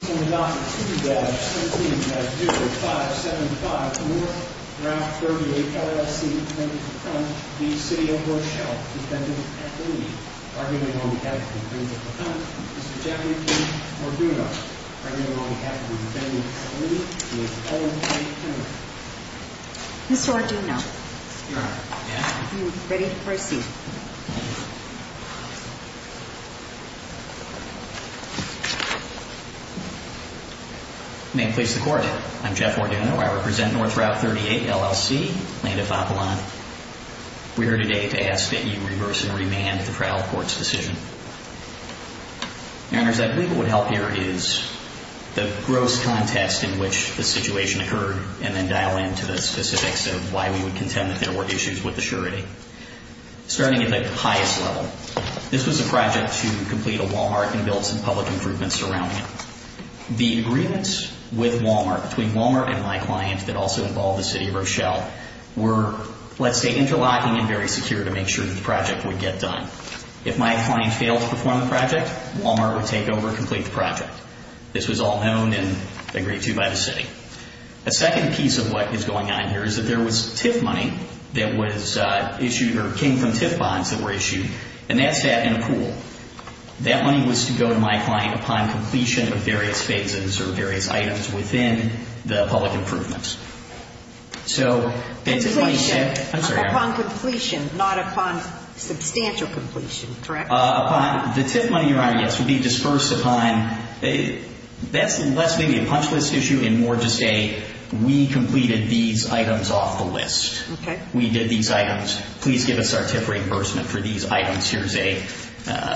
Defendant at Lead, arguing on behalf of the Defendant at the front, Mr. Jeffrey P. Orduno, arguing on behalf of the Defendant at the lead, and his opponent, Frank Kimmerer. Ms. Orduno, you are ready to proceed. May it please the Court, I'm Jeff Orduno. I represent North Route 38, LLC, plaintiff Apollon. We are here today to ask that you reverse and remand the trial court's decision. Your Honors, I believe what would help here is the gross context in which the situation occurred, and then dial in to the specifics of why we would contend that there were issues with the surety. Starting at the highest level, this was a project to complete a Walmart and build some public improvements around it. The agreements with Walmart, between Walmart and my client that also involved the City of Rochelle, were, let's say, interlocking and very secure to make sure that the project would get done. If my client failed to perform the project, Walmart would take over and complete the project. This was all known and agreed to by the City. A second piece of what is going on here is that there was TIF money that was issued, or came from TIF bonds that were issued, and that sat in a pool. That money was to go to my client upon completion of various phases or various items within the public improvements. So, basically... Upon completion, not upon substantial completion, correct? Upon... The TIF money, Your Honor, yes, would be dispersed upon... That's less maybe a punch list issue and more just a, we completed these items off the list. We did these items. Please give us our TIF reimbursement for these items. Here's a,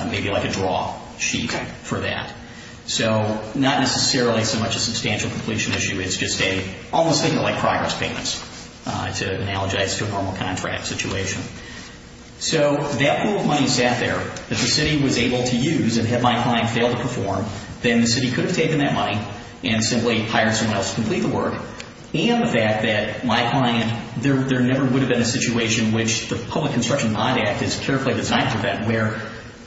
maybe like a draw sheet for that. So, not necessarily so much a substantial completion issue. It's just a, almost thinking like progress payments, to analogize to a normal contract situation. So, that pool of money sat there that the City was able to use and had my client fail to perform, then the City could have taken that money and simply hired someone else to complete the work. And the fact that my client... There never would have been a situation in which the Public Construction Bond Act is carefully designed for that, where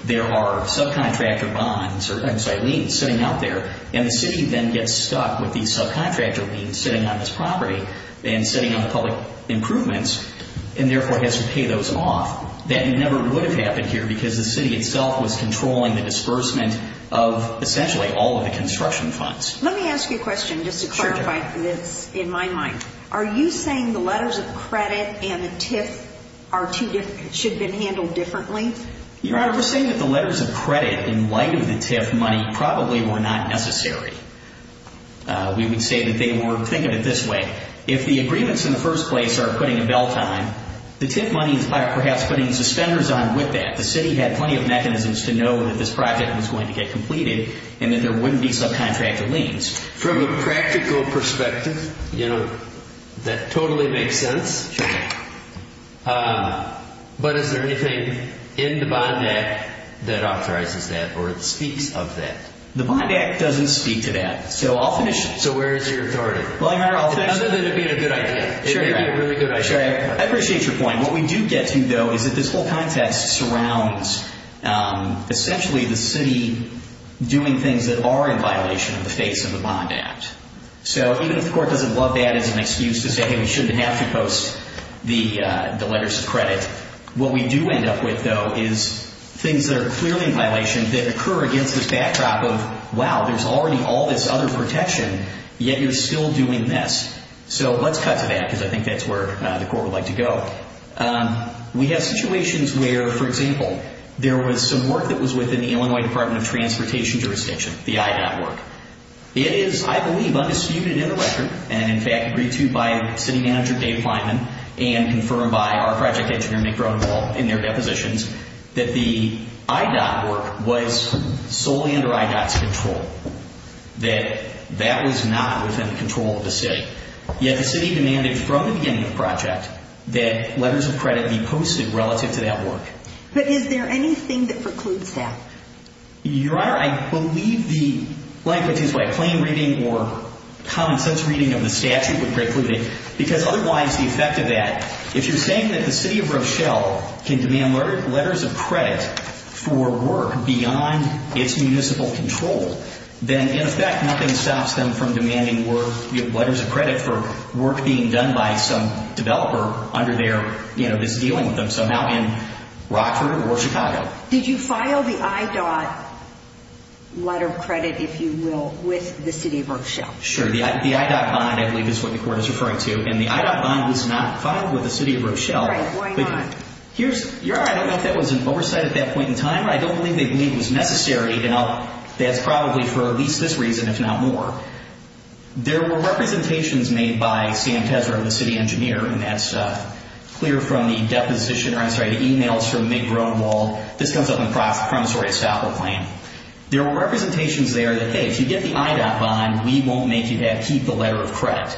there are subcontractor bonds, or I'm sorry, liens, sitting out there, and the City then gets stuck with these subcontractor liens sitting on this property and sitting on the public improvements, and therefore has to pay those off, that never would have happened here, because the City itself was controlling the disbursement of essentially all of the construction funds. Let me ask you a question, just to clarify this in my mind. Are you saying the letters of credit and the TIF are too, should have been handled differently? Your Honor, we're saying that the letters of credit, in light of the TIF money, probably were not necessary. We would say that they were, think of it this way. If the agreements in the first place are putting a bell time, the TIF money is perhaps putting suspenders on with that. The City had plenty of mechanisms to know that this project was going to get completed and that there wouldn't be subcontractor liens. From a practical perspective, you know, that totally makes sense. But is there anything in the Bond Act that authorizes that or speaks of that? The Bond Act doesn't speak to that. So where is your authority? Other than it being a good idea. It would be a really good idea. I appreciate your point. What we do get to, though, is that this whole contest surrounds essentially the City doing things that are in violation of the face of the Bond Act. So even if the Court doesn't love that as an excuse to say, hey, we shouldn't have to post the letters of credit, what we do end up with, though, is things that are clearly in violation that occur against this backdrop of, wow, there's already all this other protection, yet you're still doing this. So let's cut to that because I think that's where the Court would like to go. We have situations where, for example, there was some work that was within the Illinois Department of Transportation jurisdiction, the IDOT work. It is, I believe, undisputed in the record and, in fact, agreed to by City Manager Dave Kleinman and confirmed by our project engineer, Nick Roneval, in their depositions, that the IDOT work was solely under IDOT's control, that that was not within the control of the City. Yet the City demanded from the beginning of the project that letters of credit be posted relative to that work. But is there anything that precludes that? Your Honor, I believe the language is by plain reading or common sense reading of the statute would preclude it because otherwise the effect of that, if you're saying that the City of Rochelle can demand letters of credit for work beyond its municipal control, then, in effect, nothing stops them from demanding letters of credit for work being done by some developer under their, you know, that's dealing with them somehow in Rockford or Chicago. Did you file the IDOT letter of credit, if you will, with the City of Rochelle? Sure. The IDOT bond, I believe, is what the Court is referring to. And the IDOT bond was not filed with the City of Rochelle. All right. Why not? Your Honor, I don't know if that was an oversight at that point in time. I don't believe they believe it was necessary. Now, that's probably for at least this reason, if not more. There were representations made by Sam Teser, the City Engineer, and that's clear from the deposition, or I'm sorry, the emails from Nick Roneval. This comes up in the promissory estoppel claim. There were representations there that, hey, if you get the IDOT bond, we won't make you keep the letter of credit.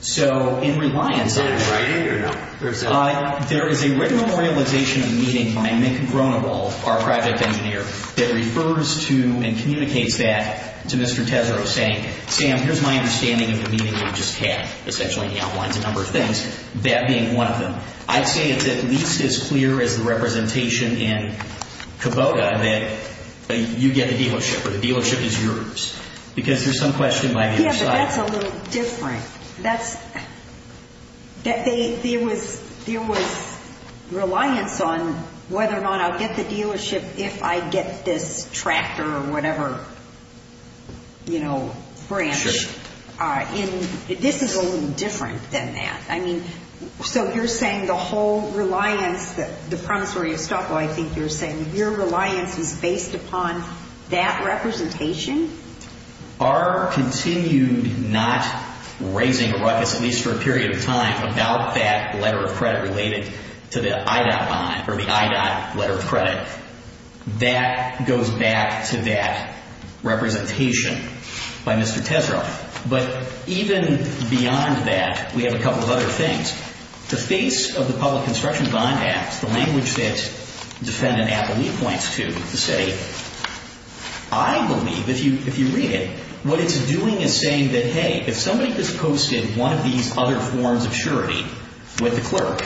So, in reliance on that, there is a written memorialization meeting by Nick Roneval, our project engineer, that refers to and communicates that to Mr. Teser saying, Sam, here's my understanding of the meeting you just had. Essentially, he outlines a number of things, that being one of them. I'd say it's at least as clear as the representation in Kubota that you get the dealership or the dealership is yours. Because there's some question by the other side. Yeah, but that's a little different. There was reliance on whether or not I'll get the dealership if I get this tractor or whatever, you know, branch. Sure. This is a little different than that. I mean, so you're saying the whole reliance, the promissory estoppel I think you're saying, your reliance is based upon that representation? Our continued not raising, at least for a period of time, about that letter of credit related to the IDOT bond, or the IDOT letter of credit, that goes back to that representation by Mr. Teser. But even beyond that, we have a couple of other things. The face of the Public Construction Bond Act, the language that defendant Appleby points to, to say, I believe, if you read it, what it's doing is saying that, hey, if somebody has posted one of these other forms of surety with the clerk,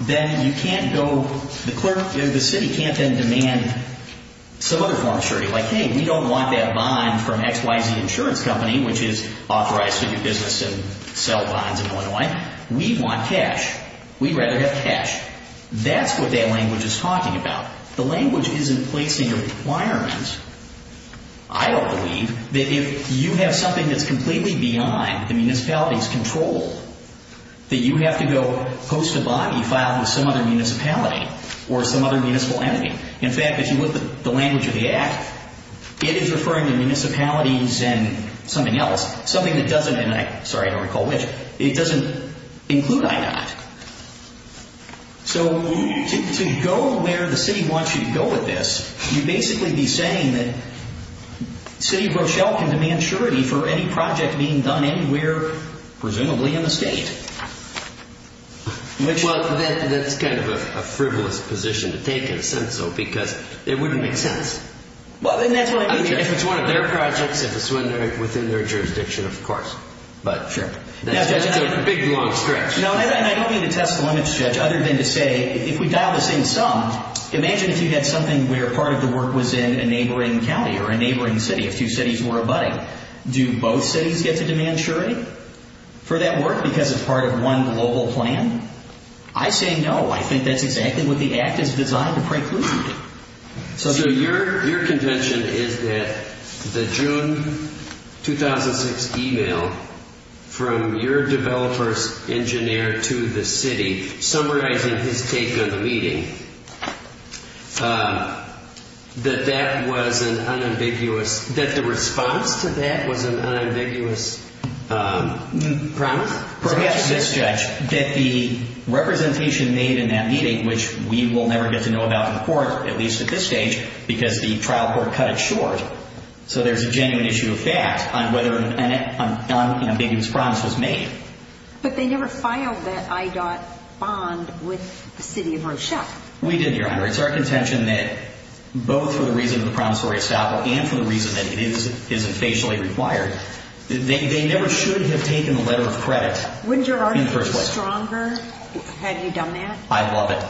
then you can't go, the clerk, the city can't then demand some other form of surety. Like, hey, we don't want that bond from XYZ Insurance Company, which is authorized to do business and sell bonds in Illinois. We want cash. We'd rather have cash. That's what that language is talking about. The language isn't placing a requirement, I don't believe, that if you have something that's completely beyond the municipality's control, that you have to go post a body filed with some other municipality or some other municipal entity. In fact, if you look at the language of the act, it is referring to municipalities and something else, something that doesn't, and I, sorry, I don't recall which, it doesn't include I-NOT. So to go where the city wants you to go with this, you'd basically be saying that City of Rochelle can demand surety for any project being done anywhere, presumably, in the state. Well, that's kind of a frivolous position to take in a sentence, though, because it wouldn't make sense. Well, and that's what I mean, Judge. I mean, if it's one of their projects, if it's within their jurisdiction, of course. But, Judge, that's a big, long stretch. No, and I don't mean to test the limits, Judge, other than to say, if we dial this in sum, imagine if you had something where part of the work was in a neighboring county or a neighboring city, if two cities were abutting. Do both cities get to demand surety for that work because it's part of one global plan? I say no. I think that's exactly what the Act is designed to preclude. So your contention is that the June 2006 email from your developer's engineer to the city, summarizing his take on the meeting, that that was an unambiguous, that the response to that was an unambiguous promise? Perhaps, yes, Judge, that the representation made in that meeting, which we will never get to know about in court, at least at this stage, because the trial court cut it short. So there's a genuine issue of fact on whether an unambiguous promise was made. But they never filed that IDOT bond with the city of Rochelle. We did, Your Honor. It's our contention that both for the reason of the promissory estoppel and for the reason that it isn't facially required, they never should have taken the letter of credit in the first place. Wouldn't your argument be stronger had you done that? I'd love it.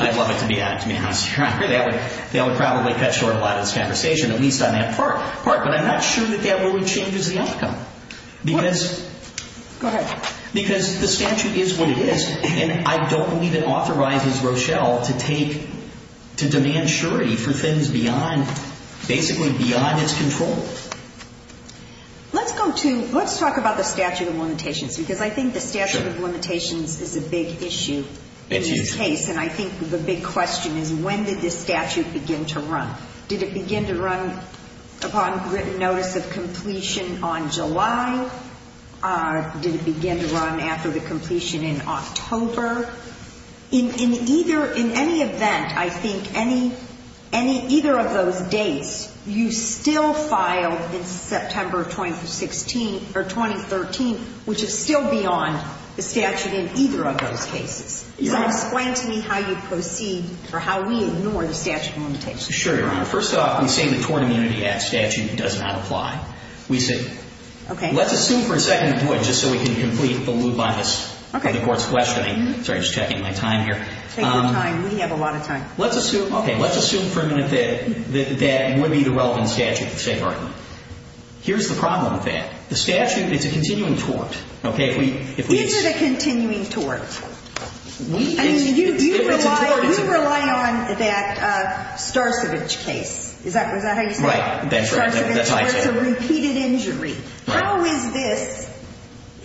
I'd love it to be honest, Your Honor. They would probably cut short a lot of this conversation, at least on that part. But I'm not sure that that really changes the outcome. Go ahead. Because the statute is what it is, and I don't believe it authorizes Rochelle to take, to demand surety for things beyond, basically beyond its control. Let's go to, let's talk about the statute of limitations because I think the statute of limitations is a big issue in this case, and I think the big question is when did this statute begin to run? Did it begin to run upon written notice of completion on July? Did it begin to run after the completion in October? In either, in any event, I think any, any, either of those dates, you still filed in September of 2016, or 2013, which is still beyond the statute in either of those cases. So explain to me how you proceed for how we ignore the statute of limitations. Sure, Your Honor. First off, we say the torn immunity act statute does not apply. We say. Okay. Let's assume for a second, just so we can complete the loop on this. Okay. The court's questioning. Sorry, just checking my time here. Take your time. We have a lot of time. Let's assume, okay, let's assume for a minute that, that it would be the relevant statute to say pardon me. Here's the problem with that. The statute, it's a continuing tort. Okay. These are the continuing tort. I mean, you rely, you rely on that Starcevich case. Is that, is that how you say it? Right. Starcevich tort is a repeated injury. Right. How is this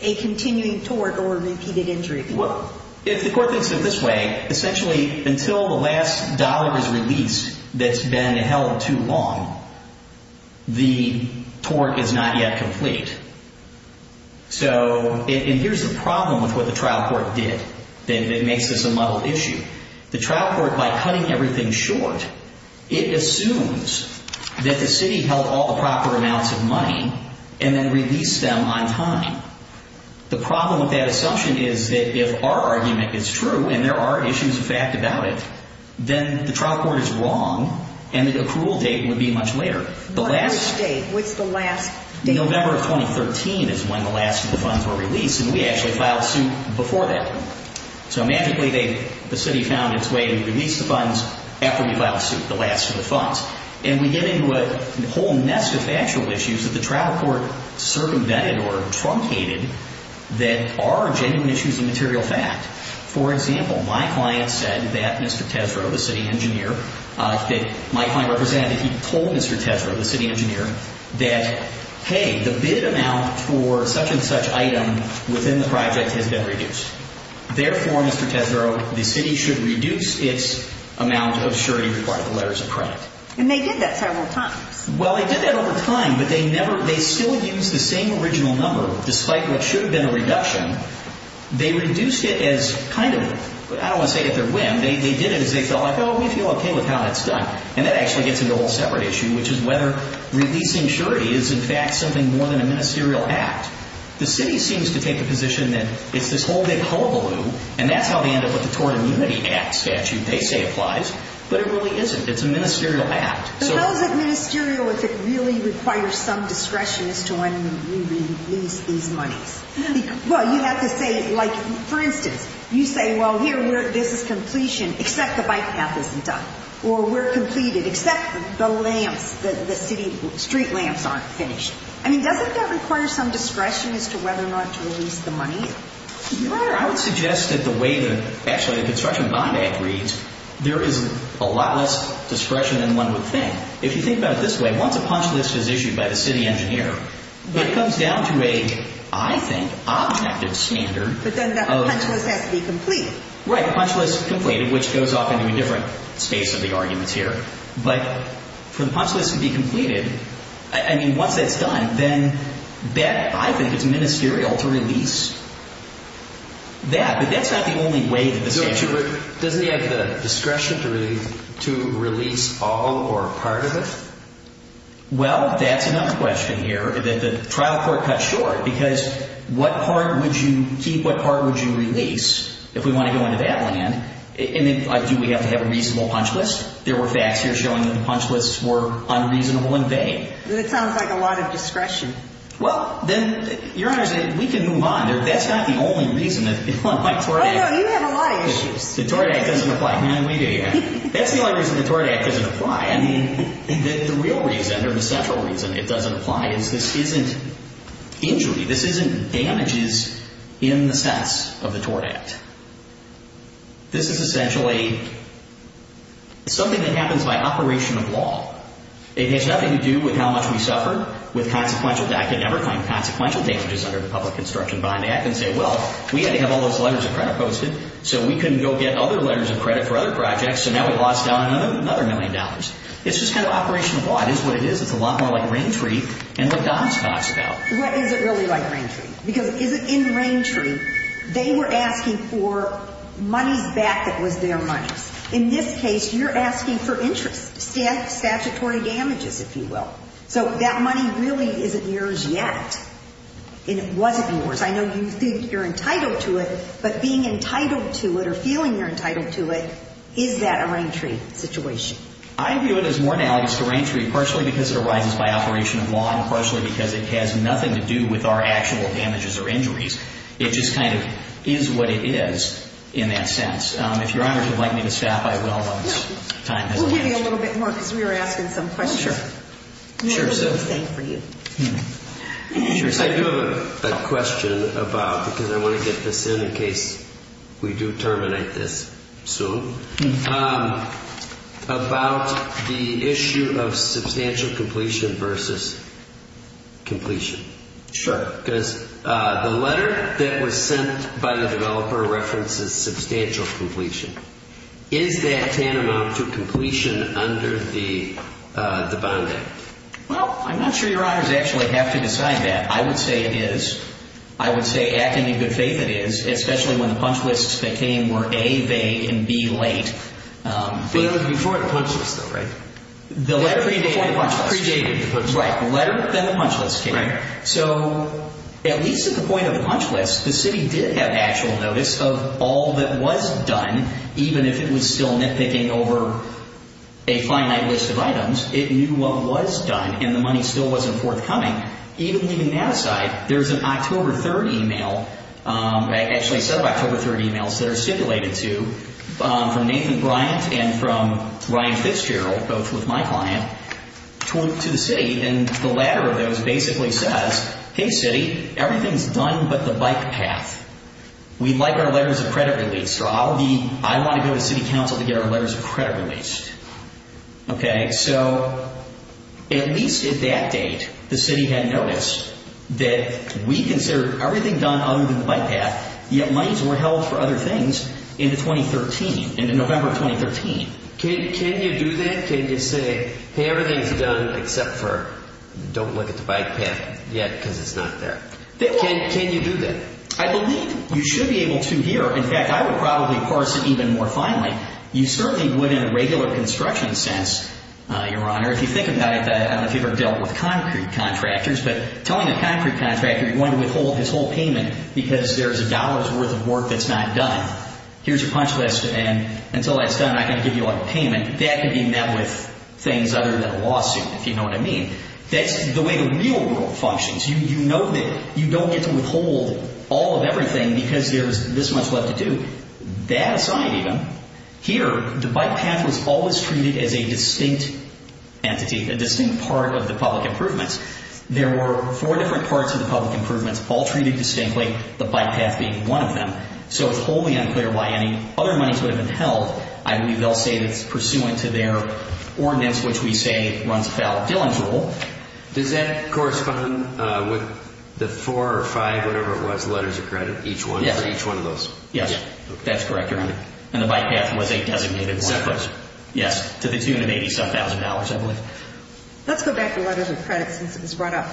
a continuing tort or a repeated injury? Well, if the court thinks of it this way, essentially until the last dollar is released that's been held too long, the tort is not yet complete. So here's the problem with what the trial court did that makes this a muddled issue. The trial court, by cutting everything short, it assumes that the city held all the proper amounts of money and then released them on time. The problem with that assumption is that if our argument is true and there are issues of fact about it, then the trial court is wrong and the accrual date would be much later. What's the date? What's the last date? November of 2013 is when the last of the funds were released, and we actually filed suit before that. So magically the city found its way to release the funds after we filed suit, the last of the funds. And we get into a whole nest of factual issues that the trial court circumvented or truncated that are genuine issues of material fact. For example, my client said that Mr. Tesreau, the city engineer, that my client represented, he told Mr. Tesreau, the city engineer, that hey, the bid amount for such and such item within the project has been reduced. Therefore, Mr. Tesreau, the city should reduce its amount of surety required by the letters of credit. And they did that several times. Well, they did that over time, but they still used the same original number despite what should have been a reduction. They reduced it as kind of, I don't want to say if or when, they did it as they felt like, oh, we feel okay with how that's done. And that actually gets into a whole separate issue, which is whether releasing surety is in fact something more than a ministerial act. The city seems to take a position that it's this whole big hullabaloo, and that's how they end up with the Tort Immunity Act statute they say applies, but it really isn't. It's a ministerial act. But how is it ministerial if it really requires some discretion as to when we release these monies? Well, you have to say, like, for instance, you say, well, here, this is completion, except the bike path isn't done, or we're completed, except the lamps, the city street lamps aren't finished. I mean, doesn't that require some discretion as to whether or not to release the money? I would suggest that the way that actually the Construction Bond Act reads, there is a lot less discretion than one would think. If you think about it this way, once a punch list is issued by the city engineer, it comes down to a, I think, objective standard. But then the punch list has to be complete. Right, the punch list is complete, which goes off into a different space of the arguments here. But for the punch list to be completed, I mean, once that's done, then that, I think, is ministerial to release that. But that's not the only way that the statute. Doesn't he have the discretion to release all or part of it? Well, that's another question here. The trial court cut short because what part would you keep, what part would you release if we want to go into that land? And then do we have to have a reasonable punch list? There were facts here showing that the punch lists were unreasonable and vague. That sounds like a lot of discretion. Well, then, Your Honors, we can move on. That's not the only reason that the Tort Act. Oh, no, you have a lot of issues. The Tort Act doesn't apply. No, we do. That's the only reason the Tort Act doesn't apply. I mean, the real reason or the central reason it doesn't apply is this isn't injury. This isn't damages in the sense of the Tort Act. This is essentially something that happens by operation of law. It has nothing to do with how much we suffer with consequential damage. I could never find consequential damages under the Public Construction Bond Act and say, well, we had to have all those letters of credit posted so we couldn't go get other letters of credit for other projects, so now we've lost out on another million dollars. It's just kind of operation of law. It is what it is. It's a lot more like Rain Tree and what Don's talks about. What is it really like Rain Tree? Because in Rain Tree, they were asking for money back that was their money. In this case, you're asking for interest, statutory damages, if you will. So that money really isn't yours yet, and it wasn't yours. I know you think you're entitled to it, but being entitled to it or feeling you're entitled to it, is that a Rain Tree situation? I view it as more analogous to Rain Tree, partially because it arises by operation of law and partially because it has nothing to do with our actual damages or injuries. It just kind of is what it is in that sense. If Your Honor would like me to stop, I will, but time has elapsed. We'll give you a little bit more because we were asking some questions. Oh, sure. Sure, sir. What was it he was saying for you? I do have a question about, because I want to get this in in case we do terminate this soon, about the issue of substantial completion versus completion. Sure. Because the letter that was sent by the developer references substantial completion. Is that tantamount to completion under the Bond Act? Well, I'm not sure Your Honors actually have to decide that. I would say it is. I would say, acting in good faith, it is, especially when the punch lists that came were A, vague, and B, late. But it was before the punch list, though, right? The letter came before the punch list. Pre-dated the punch list. Right. The letter, then the punch list came. Right. So, at least at the point of the punch list, the city did have actual notice of all that was done, even if it was still nitpicking over a finite list of items. It knew what was done, and the money still wasn't forthcoming. Even leaving that aside, there's an October 3rd email, actually a set of October 3rd emails that are simulated to, from Nathan Bryant and from Ryan Fitzgerald, both with my client, to the city. And the latter of those basically says, hey, city, everything's done but the bike path. We'd like our letters of credit released. I want to go to city council to get our letters of credit released. Okay? So, at least at that date, the city had noticed that we considered everything done other than the bike path, yet monies were held for other things in the 2013, in the November of 2013. Can you do that? Can you say, hey, everything's done except for don't look at the bike path yet because it's not there. Can you do that? I believe you should be able to here. In fact, I would probably parse it even more finely. You certainly would in a regular construction sense, Your Honor. If you think about it, I don't know if you've ever dealt with concrete contractors, but telling a concrete contractor you're going to withhold his whole payment because there's a dollar's worth of work that's not done. Here's your punch list, and until that's done, I can give you a payment. That could be met with things other than a lawsuit, if you know what I mean. That's the way the real world functions. You know that you don't get to withhold all of everything because there's this much left to do. With that aside even, here the bike path was always treated as a distinct entity, a distinct part of the public improvements. There were four different parts of the public improvements, all treated distinctly, the bike path being one of them. So it's wholly unclear why any other monies would have been held. I believe they'll say it's pursuant to their ordinance, which we say runs a valid billing tool. Does that correspond with the four or five, whatever it was, letters of credit for each one of those? Yes, that's correct, Your Honor. And the bike path was a designated one of those? Yes, to the tune of $87,000, I believe. Let's go back to letters of credit since it was brought up.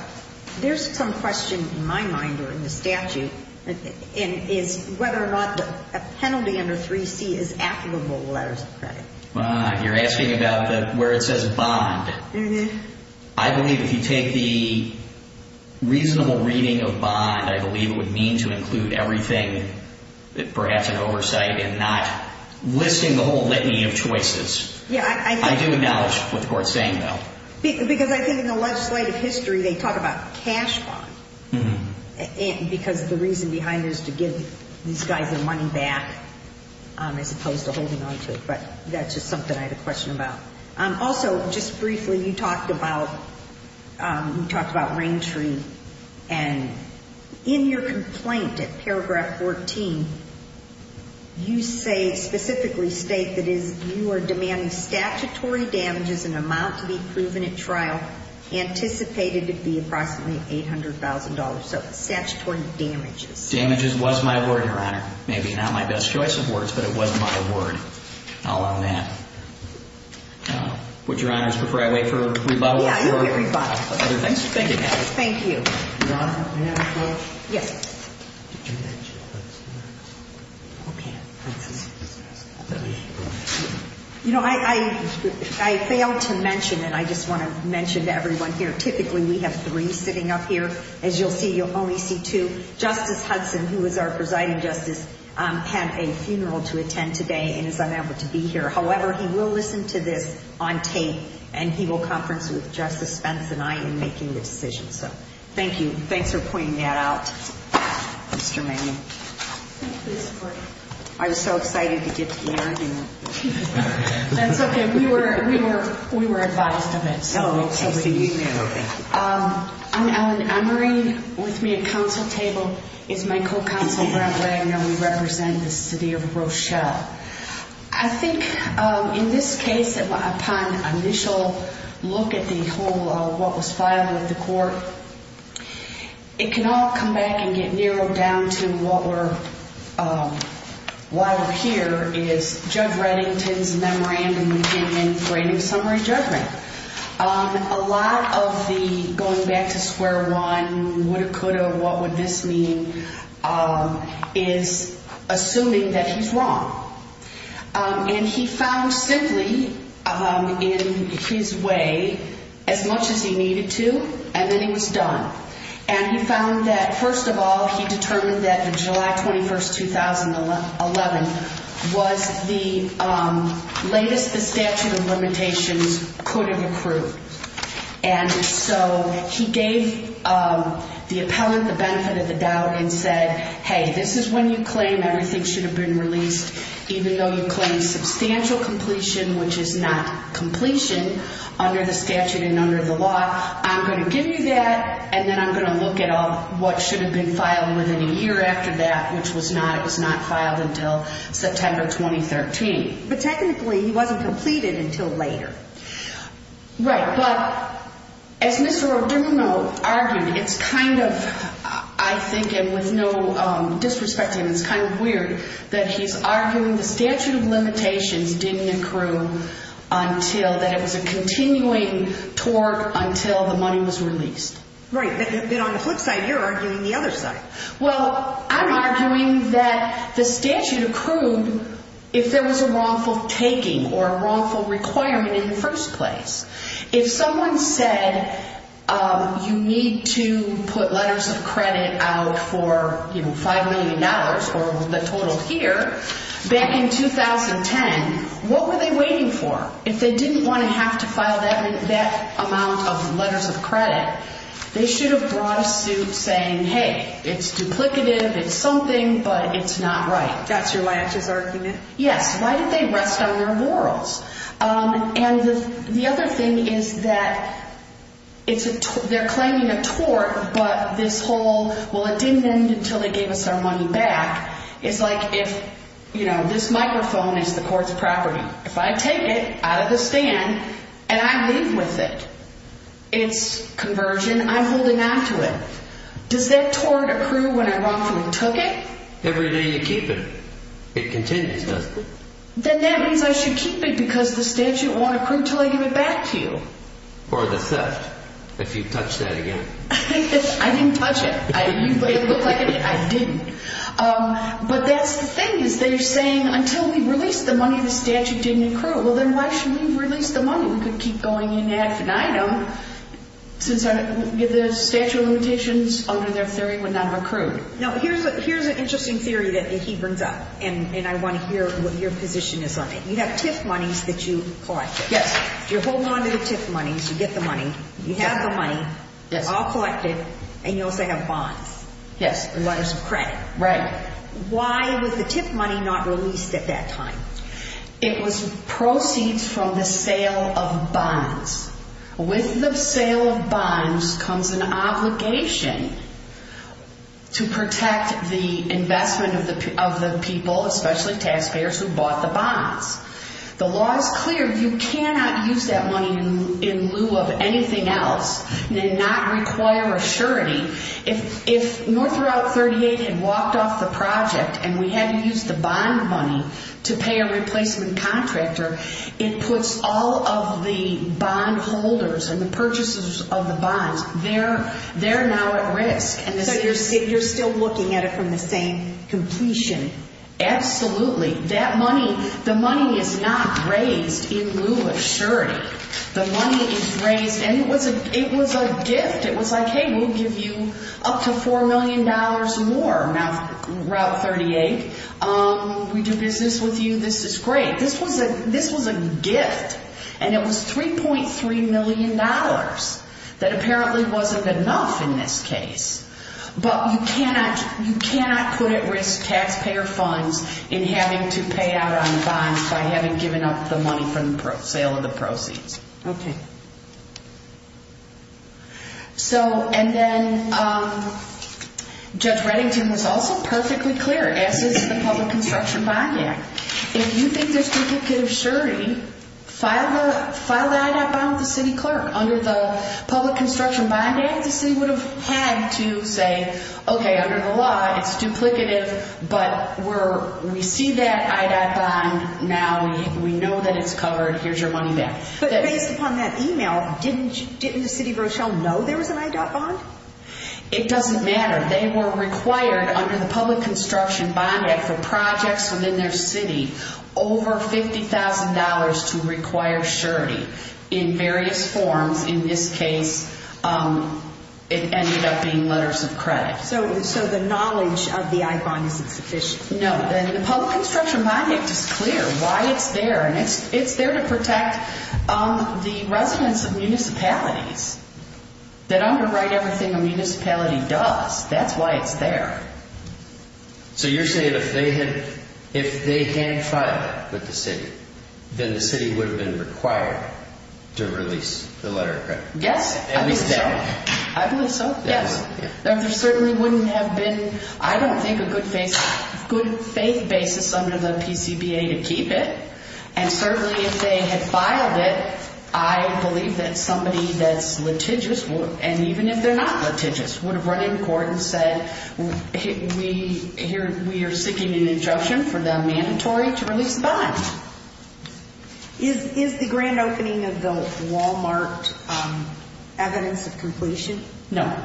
There's some question in my mind or in the statute, and it's whether or not a penalty under 3C is applicable to letters of credit. You're asking about where it says bond. I believe if you take the reasonable reading of bond, I believe it would mean to include everything, perhaps an oversight, and not listing the whole litany of choices. I do acknowledge what the Court's saying, though. Because I think in the legislative history they talk about cash bond because the reason behind it is to give these guys their money back as opposed to holding on to it. But that's just something I had a question about. Also, just briefly, you talked about rain tree. And in your complaint at paragraph 14, you specifically state that you are demanding statutory damages in amount to be proven at trial anticipated to be approximately $800,000. So statutory damages. Damages was my word, Your Honor. Maybe not my best choice of words, but it was my word. I'll allow that. Would Your Honor prefer I wait for rebuttal? Yeah, you can rebuttal. Thanks for thinking that. Thank you. Your Honor, may I have a question? Yes. You know, I failed to mention, and I just want to mention to everyone here, typically we have three sitting up here. As you'll see, you'll only see two. Justice Hudson, who is our presiding justice, had a funeral to attend today and is unable to be here. However, he will listen to this on tape, and he will conference with Justice Spence and I in making the decision. So thank you. Thanks for pointing that out, Mr. Manning. Thank you for your support. I was so excited to get to hear you. That's okay. We were advised of it. So we'll see you there. I'm Ellen Emery. With me at counsel table is my co-counsel, Brent Wagner. We represent the city of Rochelle. I think in this case, upon initial look at the whole of what was filed at the court, it can all come back and get narrowed down to what we're here is Judge Reddington's memorandum in writing summary judgment. A lot of the going back to square one, woulda, coulda, what would this mean, is assuming that he's wrong. And he found simply in his way as much as he needed to, and then he was done. And he found that, first of all, he determined that the July 21, 2011, was the latest the statute of limitations could have approved. And so he gave the appellant the benefit of the doubt and said, hey, this is when you claim everything should have been released, even though you claim substantial completion, which is not completion, under the statute and under the law. I'm going to give you that, and then I'm going to look at what should have been filed within a year after that, which was not. It was not filed until September 2013. But technically, he wasn't completed until later. Right. But as Mr. O'Donoghue argued, it's kind of, I think, and with no disrespect to him, it's kind of weird that he's arguing the statute of limitations didn't accrue until, that it was a continuing tort until the money was released. Right. But on the flip side, you're arguing the other side. Well, I'm arguing that the statute accrued if there was a wrongful taking or a wrongful requirement in the first place. If someone said you need to put letters of credit out for $5 million or the total here, back in 2010, what were they waiting for? If they didn't want to have to file that amount of letters of credit, they should have brought a suit saying, hey, it's duplicative, it's something, but it's not right. That's your latches argument? Yes. Why did they rest on their laurels? And the other thing is that they're claiming a tort, but this whole, well, it didn't end until they gave us our money back, is like if, you know, this microphone is the court's property. If I take it out of the stand and I leave with it, it's conversion, I'm holding on to it. Does that tort accrue when I wrongfully took it? Every day you keep it. It continues, doesn't it? Then that means I should keep it because the statute won't accrue until I give it back to you. Or the theft, if you touch that again. I didn't touch it. It looked like it did. I didn't. But that's the thing is they're saying until we release the money, the statute didn't accrue. Well, then why should we release the money? We could keep going in ad finitum since the statute of limitations under their theory would not have accrued. Now, here's an interesting theory that he brings up, and I want to hear what your position is on it. You have TIF monies that you collected. Yes. You're holding on to the TIF monies. You get the money. You have the money. Yes. All collected. And you also have bonds. Yes. And letters of credit. Right. Why was the TIF money not released at that time? It was proceeds from the sale of bonds. With the sale of bonds comes an obligation to protect the investment of the people, especially taxpayers, who bought the bonds. The law is clear. You cannot use that money in lieu of anything else and not require a surety. If North Route 38 had walked off the project and we had to use the bond money to pay a replacement contractor, it puts all of the bond holders and the purchasers of the bonds, they're now at risk. So you're still looking at it from the same completion. Absolutely. That money, the money is not raised in lieu of surety. The money is raised, and it was a gift. It was like, hey, we'll give you up to $4 million more. Now, Route 38, we do business with you. This is great. This was a gift, and it was $3.3 million that apparently wasn't enough in this case. But you cannot put at risk taxpayer funds in having to pay out on bonds by having given up the money from the sale of the proceeds. Okay. And then Judge Reddington was also perfectly clear, as is the Public Construction Bond Act. If you think there's duplicative surety, file the IEDOT bond with the city clerk. Under the Public Construction Bond Act, the city would have had to say, okay, under the law, it's duplicative, but we see that IEDOT bond now. We know that it's covered. Here's your money back. But based upon that email, didn't the city of Rochelle know there was an IEDOT bond? It doesn't matter. They were required under the Public Construction Bond Act for projects within their city over $50,000 to require surety in various forms. In this case, it ended up being letters of credit. So the knowledge of the IEDOT bond isn't sufficient? No. The Public Construction Bond Act is clear why it's there. And it's there to protect the residents of municipalities that underwrite everything a municipality does. That's why it's there. So you're saying if they can file it with the city, then the city would have been required to release the letter of credit? Yes, I believe so. I believe so, yes. There certainly wouldn't have been, I don't think, a good faith basis under the PCBA to keep it, and certainly if they had filed it, I believe that somebody that's litigious, and even if they're not litigious, would have run into court and said, we are seeking an interruption for the mandatory to release the bond. Is the grand opening of the Walmart evidence of completion? No.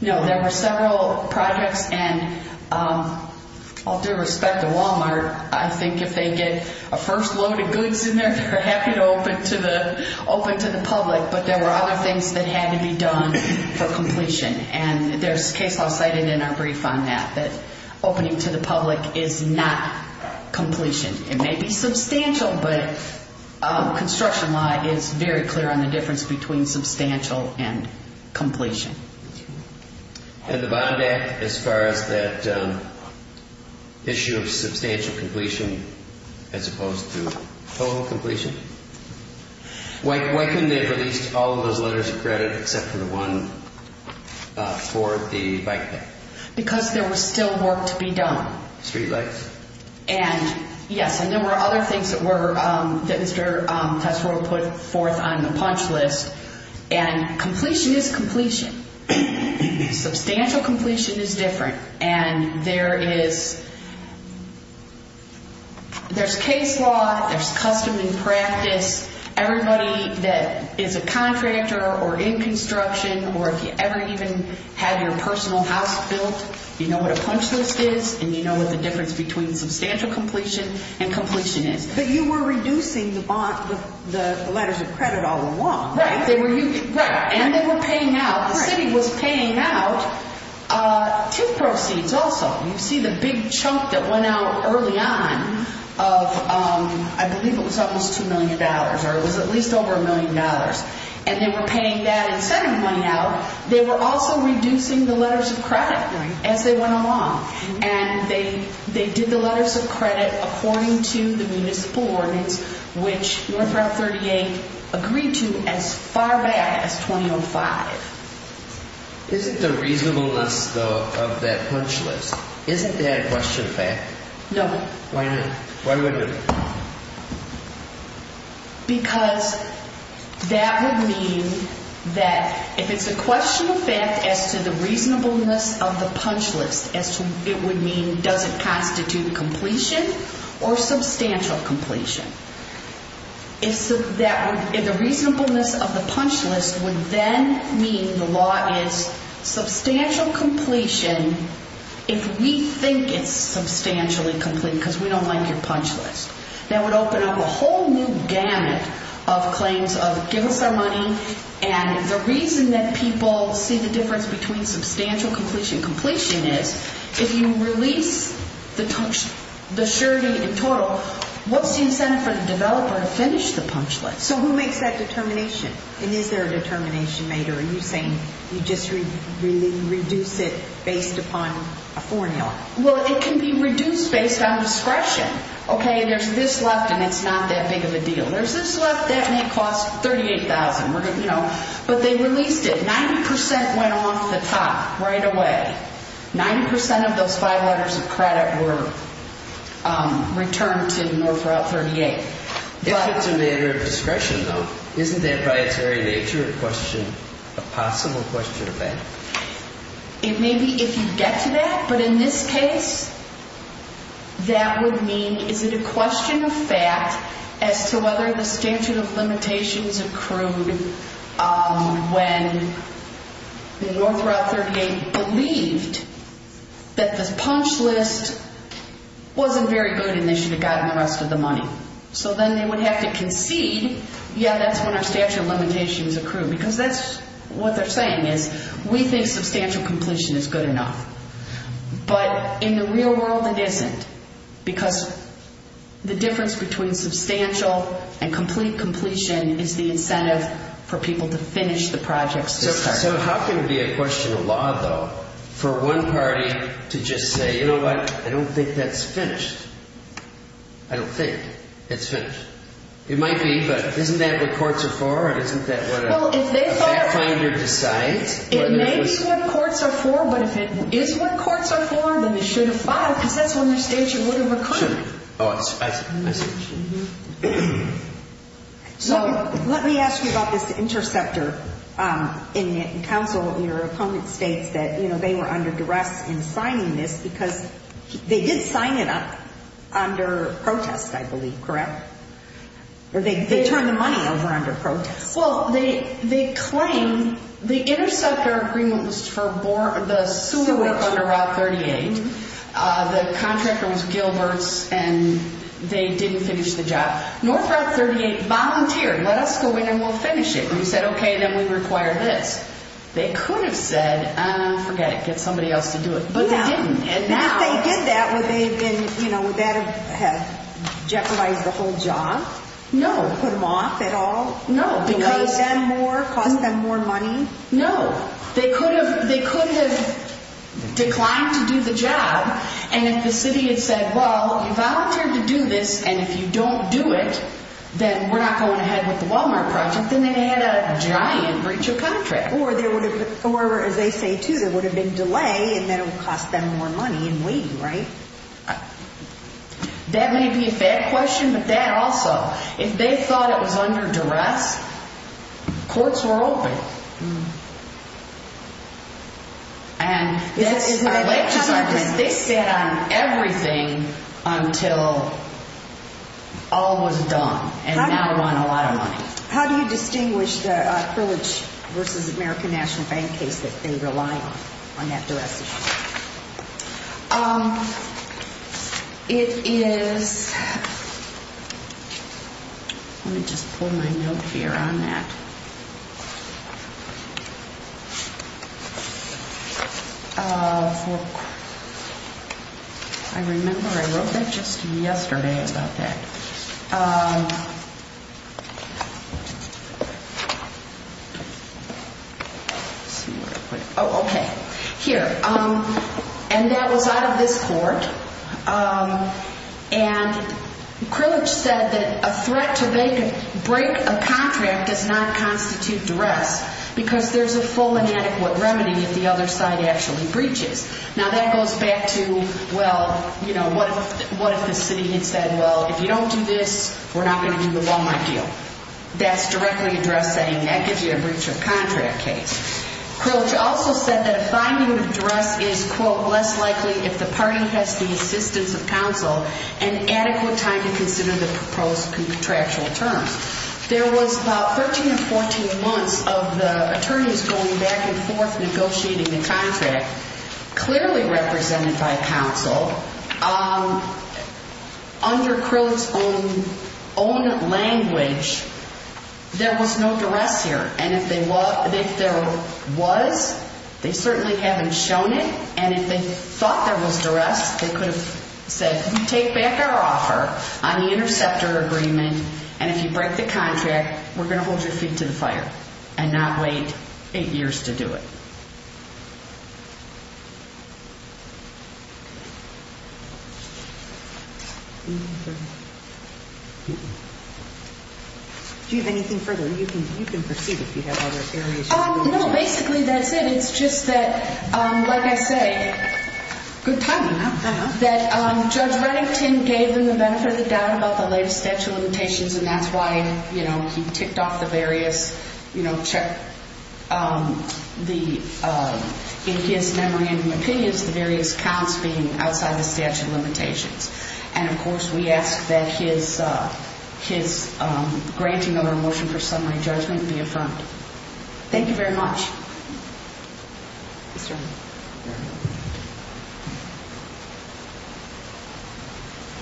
No, there were several projects, and all due respect to Walmart, I think if they get a first load of goods in there, they're happy to open to the public, but there were other things that had to be done for completion. And there's case law cited in our brief on that, that opening to the public is not completion. It may be substantial, but construction law is very clear on the difference between substantial and completion. And the Bond Act, as far as that issue of substantial completion as opposed to total completion, why couldn't they have released all of those letters of credit except for the one for the bike path? Because there was still work to be done. Street lights? And, yes, and there were other things that Mr. Tesfor put forth on the punch list, and completion is completion. Substantial completion is different, and there is case law, there's custom and practice. Everybody that is a contractor or in construction, or if you ever even had your personal house built, you know what a punch list is, and you know what the difference between substantial completion and completion is. But you were reducing the letters of credit all along. Right. And they were paying out. The city was paying out two proceeds also. You see the big chunk that went out early on of, I believe it was almost $2 million, or it was at least over $1 million, and they were paying that and sending money out. They were also reducing the letters of credit as they went along, and they did the letters of credit according to the municipal ordinance, which North Route 38 agreed to as far back as 2005. Isn't the reasonableness, though, of that punch list, isn't that a question of fact? No. Why not? Why wouldn't it? Because that would mean that if it's a question of fact as to the reasonableness of the punch list, it would mean does it constitute completion or substantial completion. If the reasonableness of the punch list would then mean the law is substantial completion if we think it's substantially complete because we don't like your punch list, that would open up a whole new gamut of claims of give us our money, and the reason that people see the difference between substantial completion and completion is if you release the surety in total, what's the incentive for the developer to finish the punch list? So who makes that determination, and is there a determination made, or are you saying you just reduce it based upon a formula? Well, it can be reduced based on discretion. Okay, there's this left, and it's not that big of a deal. There's this left, and it costs $38,000. But they released it. Ninety percent went off the top right away. Ninety percent of those five letters of credit were returned to North Route 38. If it's a matter of discretion, though, isn't that by its very nature a question, a possible question of that? It may be if you get to that, but in this case, that would mean is it a question of fact as to whether the statute of limitations accrued when North Route 38 believed that the punch list wasn't very good and they should have gotten the rest of the money. So then they would have to concede, yeah, that's when our statute of limitations accrued, because that's what they're saying is we think substantial completion is good enough. But in the real world, it isn't because the difference between substantial and complete completion is the incentive for people to finish the projects this time. So how can it be a question of law, though, for one party to just say, you know what, I don't think that's finished. I don't think it's finished. It might be, but isn't that what courts are for? Isn't that what a fact finder decides? It may be what courts are for, but if it is what courts are for, then they should have filed, because that's when their statute would have accrued. Oh, I see. So let me ask you about this interceptor. In counsel, your opponent states that they were under duress in signing this because they did sign it up under protest, I believe, correct? Or they turned the money over under protest. Well, they claim the interceptor agreement was for the sewer under Route 38. The contractor was Gilbert's, and they didn't finish the job. North Route 38 volunteered, let us go in and we'll finish it. We said, okay, then we require this. They could have said, forget it, get somebody else to do it. But they didn't. If they did that, would that have jeopardized the whole job? No. Put them off at all? No. Would it cost them more money? No. They could have declined to do the job, and if the city had said, well, you volunteered to do this, and if you don't do it, then we're not going ahead with the Walmart project, then they had a giant breach of contract. Or, as they say, too, there would have been delay, and then it would cost them more money in waiting, right? That may be a fair question, but that also. If they thought it was under duress, courts were open. And this is our legislation. They sat on everything until all was done, and now we're on a lot of money. How do you distinguish the Privilege v. American National Bank case that they rely on, on that duress issue? It is – let me just pull my note here on that. I remember I wrote that just yesterday about that. Let's see where I put it. Oh, okay. Here. And that was out of this court. And Privilege said that a threat to break a contract does not constitute duress because there's a full and adequate remedy if the other side actually breaches. Now, that goes back to, well, what if the city had said, well, if you don't do this, we're not going to do the Walmart deal. That's directly addressed saying that gives you a breach of contract case. Privilege also said that a finding of duress is, quote, less likely if the party has the assistance of counsel and adequate time to consider the proposed contractual terms. There was about 13 or 14 months of the attorneys going back and forth negotiating the contract, clearly represented by counsel. Under Privilege's own language, there was no duress here. And if there was, they certainly haven't shown it. And if they thought there was duress, they could have said, you take back our offer on the interceptor agreement, and if you break the contract, we're going to hold your feet to the fire and not wait eight years to do it. Do you have anything further? You can proceed if you have other areas you want to go over. No, basically that's it. It's just that, like I say, good timing, huh? That Judge Reddington gave him the benefit of the doubt about the life statute limitations, and that's why, you know, he ticked off the various, you know, check the individuals who are not eligible for the contract. The various counts being outside the statute limitations. And, of course, we ask that his granting of a motion for summary judgment be affirmed. Thank you very much.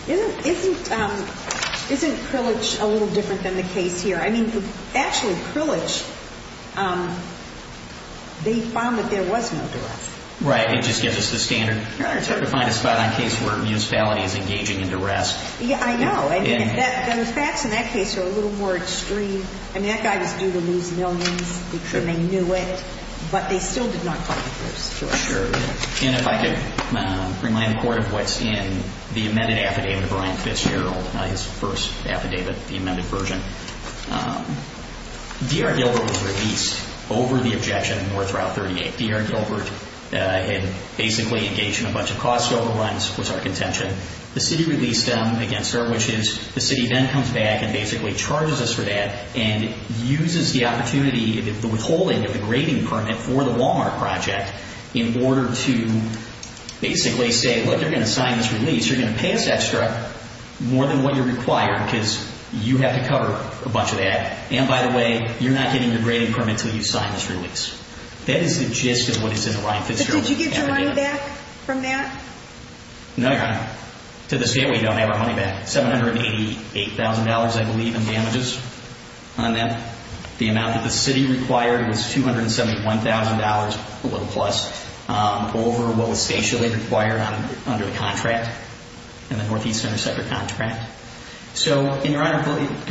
Isn't Privilege a little different than the case here? I mean, actually, Privilege, they found that there was no duress. Right. It just gives us the standard. Your Honor, it's hard to find a spot on a case where municipality is engaging in duress. Yeah, I know. I mean, the facts in that case are a little more extreme. I mean, that guy was due to lose millions, and they knew it, but they still did not call the first. Sure. And if I could remind the Court of what's in the amended affidavit of Brian Fitzgerald, his first affidavit, the amended version. D.R. Gilbert was released over the objection in North Route 38. D.R. Gilbert had basically engaged in a bunch of cost overruns, was our contention. The city released them against her, which is the city then comes back and basically charges us for that and uses the opportunity, the withholding of the grading permit for the Walmart project in order to basically say, look, you're going to sign this release, you're going to pay us extra more than what you're required because you have to cover a bunch of that, and by the way, you're not getting the grading permit until you sign this release. That is the gist of what is in the Brian Fitzgerald amended affidavit. But did you get your money back from that? No, Your Honor. To this day, we don't have our money back. $788,000, I believe, in damages on them. The amount that the city required was $271,000, a little plus, over what was stationally required under the contract, in the Northeast Intersector contract. So, Your Honor,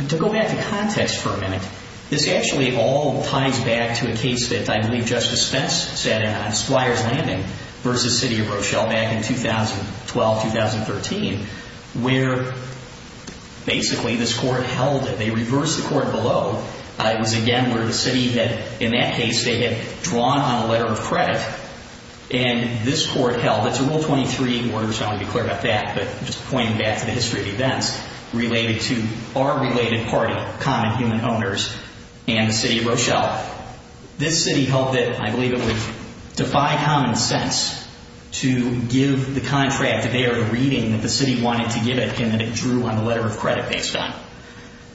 to go back to context for a minute, this actually all ties back to a case that I believe Justice Spence sat in on, Spliers Landing versus City of Rochelle back in 2012, 2013, where basically this court held it. They reversed the court below. It was, again, where the city had, in that case, they had drawn on a letter of credit, and this court held it. It's a Rule 23 order, so I want to be clear about that, but just pointing back to the history of events related to our related party, Common Human Owners, and the City of Rochelle. This city held it. I believe it would defy common sense to give the contract. They are reading that the city wanted to give it, and then it drew on a letter of credit based on it.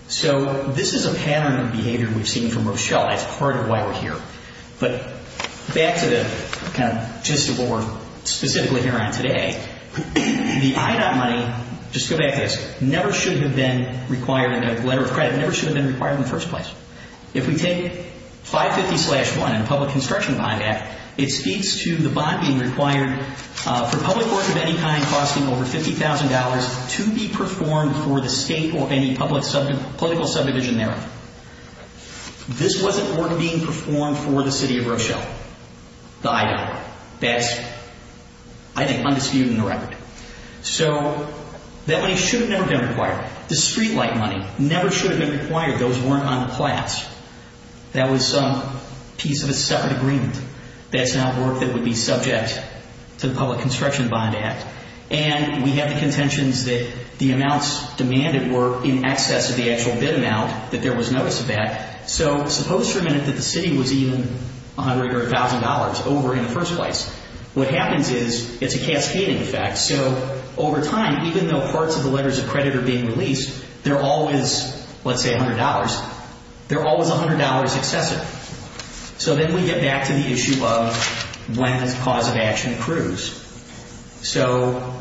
So this is a pattern of behavior we've seen from Rochelle. It's part of why we're here. But back to the kind of gist of what we're specifically here on today, the IDOT money, just go back to this, never should have been required in a letter of credit, never should have been required in the first place. If we take 550-1, the Public Construction Bond Act, it speaks to the bond being required for public work of any kind costing over $50,000 to be performed for the state or any public political subdivision thereof. This wasn't work being performed for the City of Rochelle, the IDOT. That's, I think, undisputed in the record. So that money should have never been required. The streetlight money never should have been required. Those weren't on the plats. That was some piece of a separate agreement. That's not work that would be subject to the Public Construction Bond Act. And we have the contentions that the amounts demanded were in excess of the actual bid amount, that there was notice of that. So suppose for a minute that the city was even $100,000 or $1,000 over in the first place. What happens is it's a cascading effect. So over time, even though parts of the letters of credit are being released, they're always, let's say, $100, they're always $100 excessive. So then we get back to the issue of when the cause of action accrues. So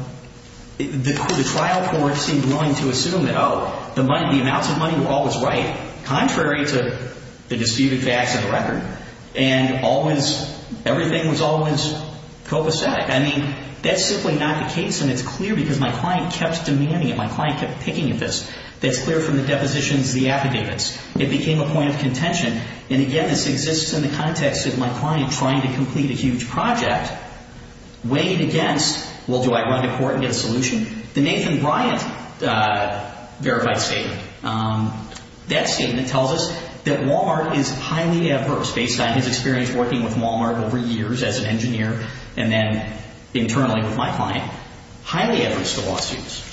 the trial court seemed willing to assume that, oh, the amounts of money were always right, contrary to the disputed facts of the record, and everything was always copacetic. I mean, that's simply not the case, and it's clear because my client kept demanding it. My client kept picking at this. That's clear from the depositions, the affidavits. It became a point of contention. And again, this exists in the context of my client trying to complete a huge project, weighed against, well, do I run to court and get a solution? The Nathan Bryant verified statement. That statement tells us that Walmart is highly adverse, based on his experience working with Walmart over years as an engineer, and then internally with my client, highly adverse to lawsuits.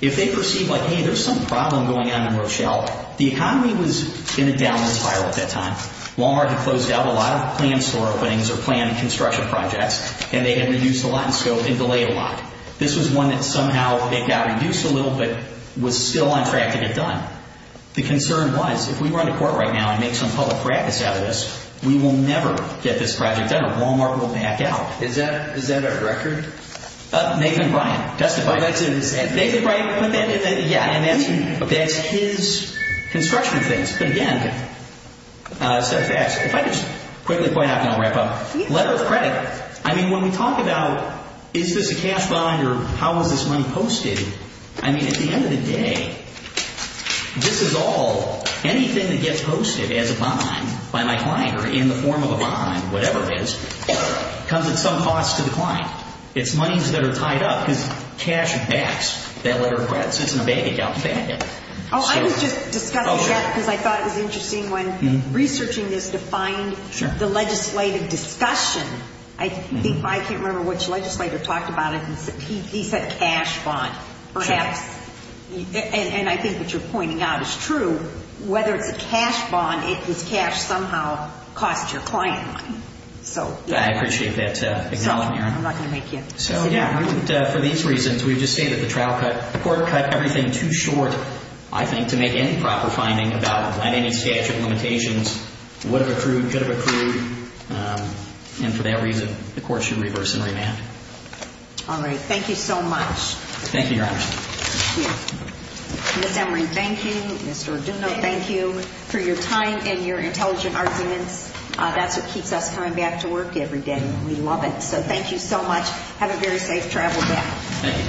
If they perceive like, hey, there's some problem going on in Rochelle, the economy was in a downward spiral at that time. Walmart had closed out a lot of planned store openings or planned construction projects, and they had reduced a lot in scope and delayed a lot. This was one that somehow it got reduced a little but was still on track to get done. The concern was, if we run to court right now and make some public practice out of this, we will never get this project done or Walmart will back out. Is that a record? Nathan Bryant testified. Nathan Bryant put that in there? Yeah, and that's his construction things. But again, set of facts. If I could just quickly point out, and then I'll wrap up. Letter of credit. I mean, when we talk about is this a cash bond or how is this money posted, I mean, at the end of the day, this is all anything that gets posted as a bond by my client or in the form of a bond, whatever it is, comes at some cost to the client. It's monies that are tied up because cash backs that letter of credit. It's in a bank account. Oh, I was just discussing that because I thought it was interesting when researching this to find the legislative discussion. I can't remember which legislator talked about it. He said cash bond. And I think what you're pointing out is true. Whether it's a cash bond, it is cash somehow costs your client money. I appreciate that. I'm not going to make you. So, yeah, for these reasons, we've just stated the trial court cut everything too short, I think, to make any proper finding about what any statute of limitations would have accrued, could have accrued, and for that reason, the court should reverse and remand. All right. Thank you so much. Thank you, Your Honor. Thank you. Ms. Emory, thank you. Mr. Arduno, thank you for your time and your intelligent arguments. That's what keeps us coming back to work every day. We love it. So thank you so much. Have a very safe travel back. Thank you.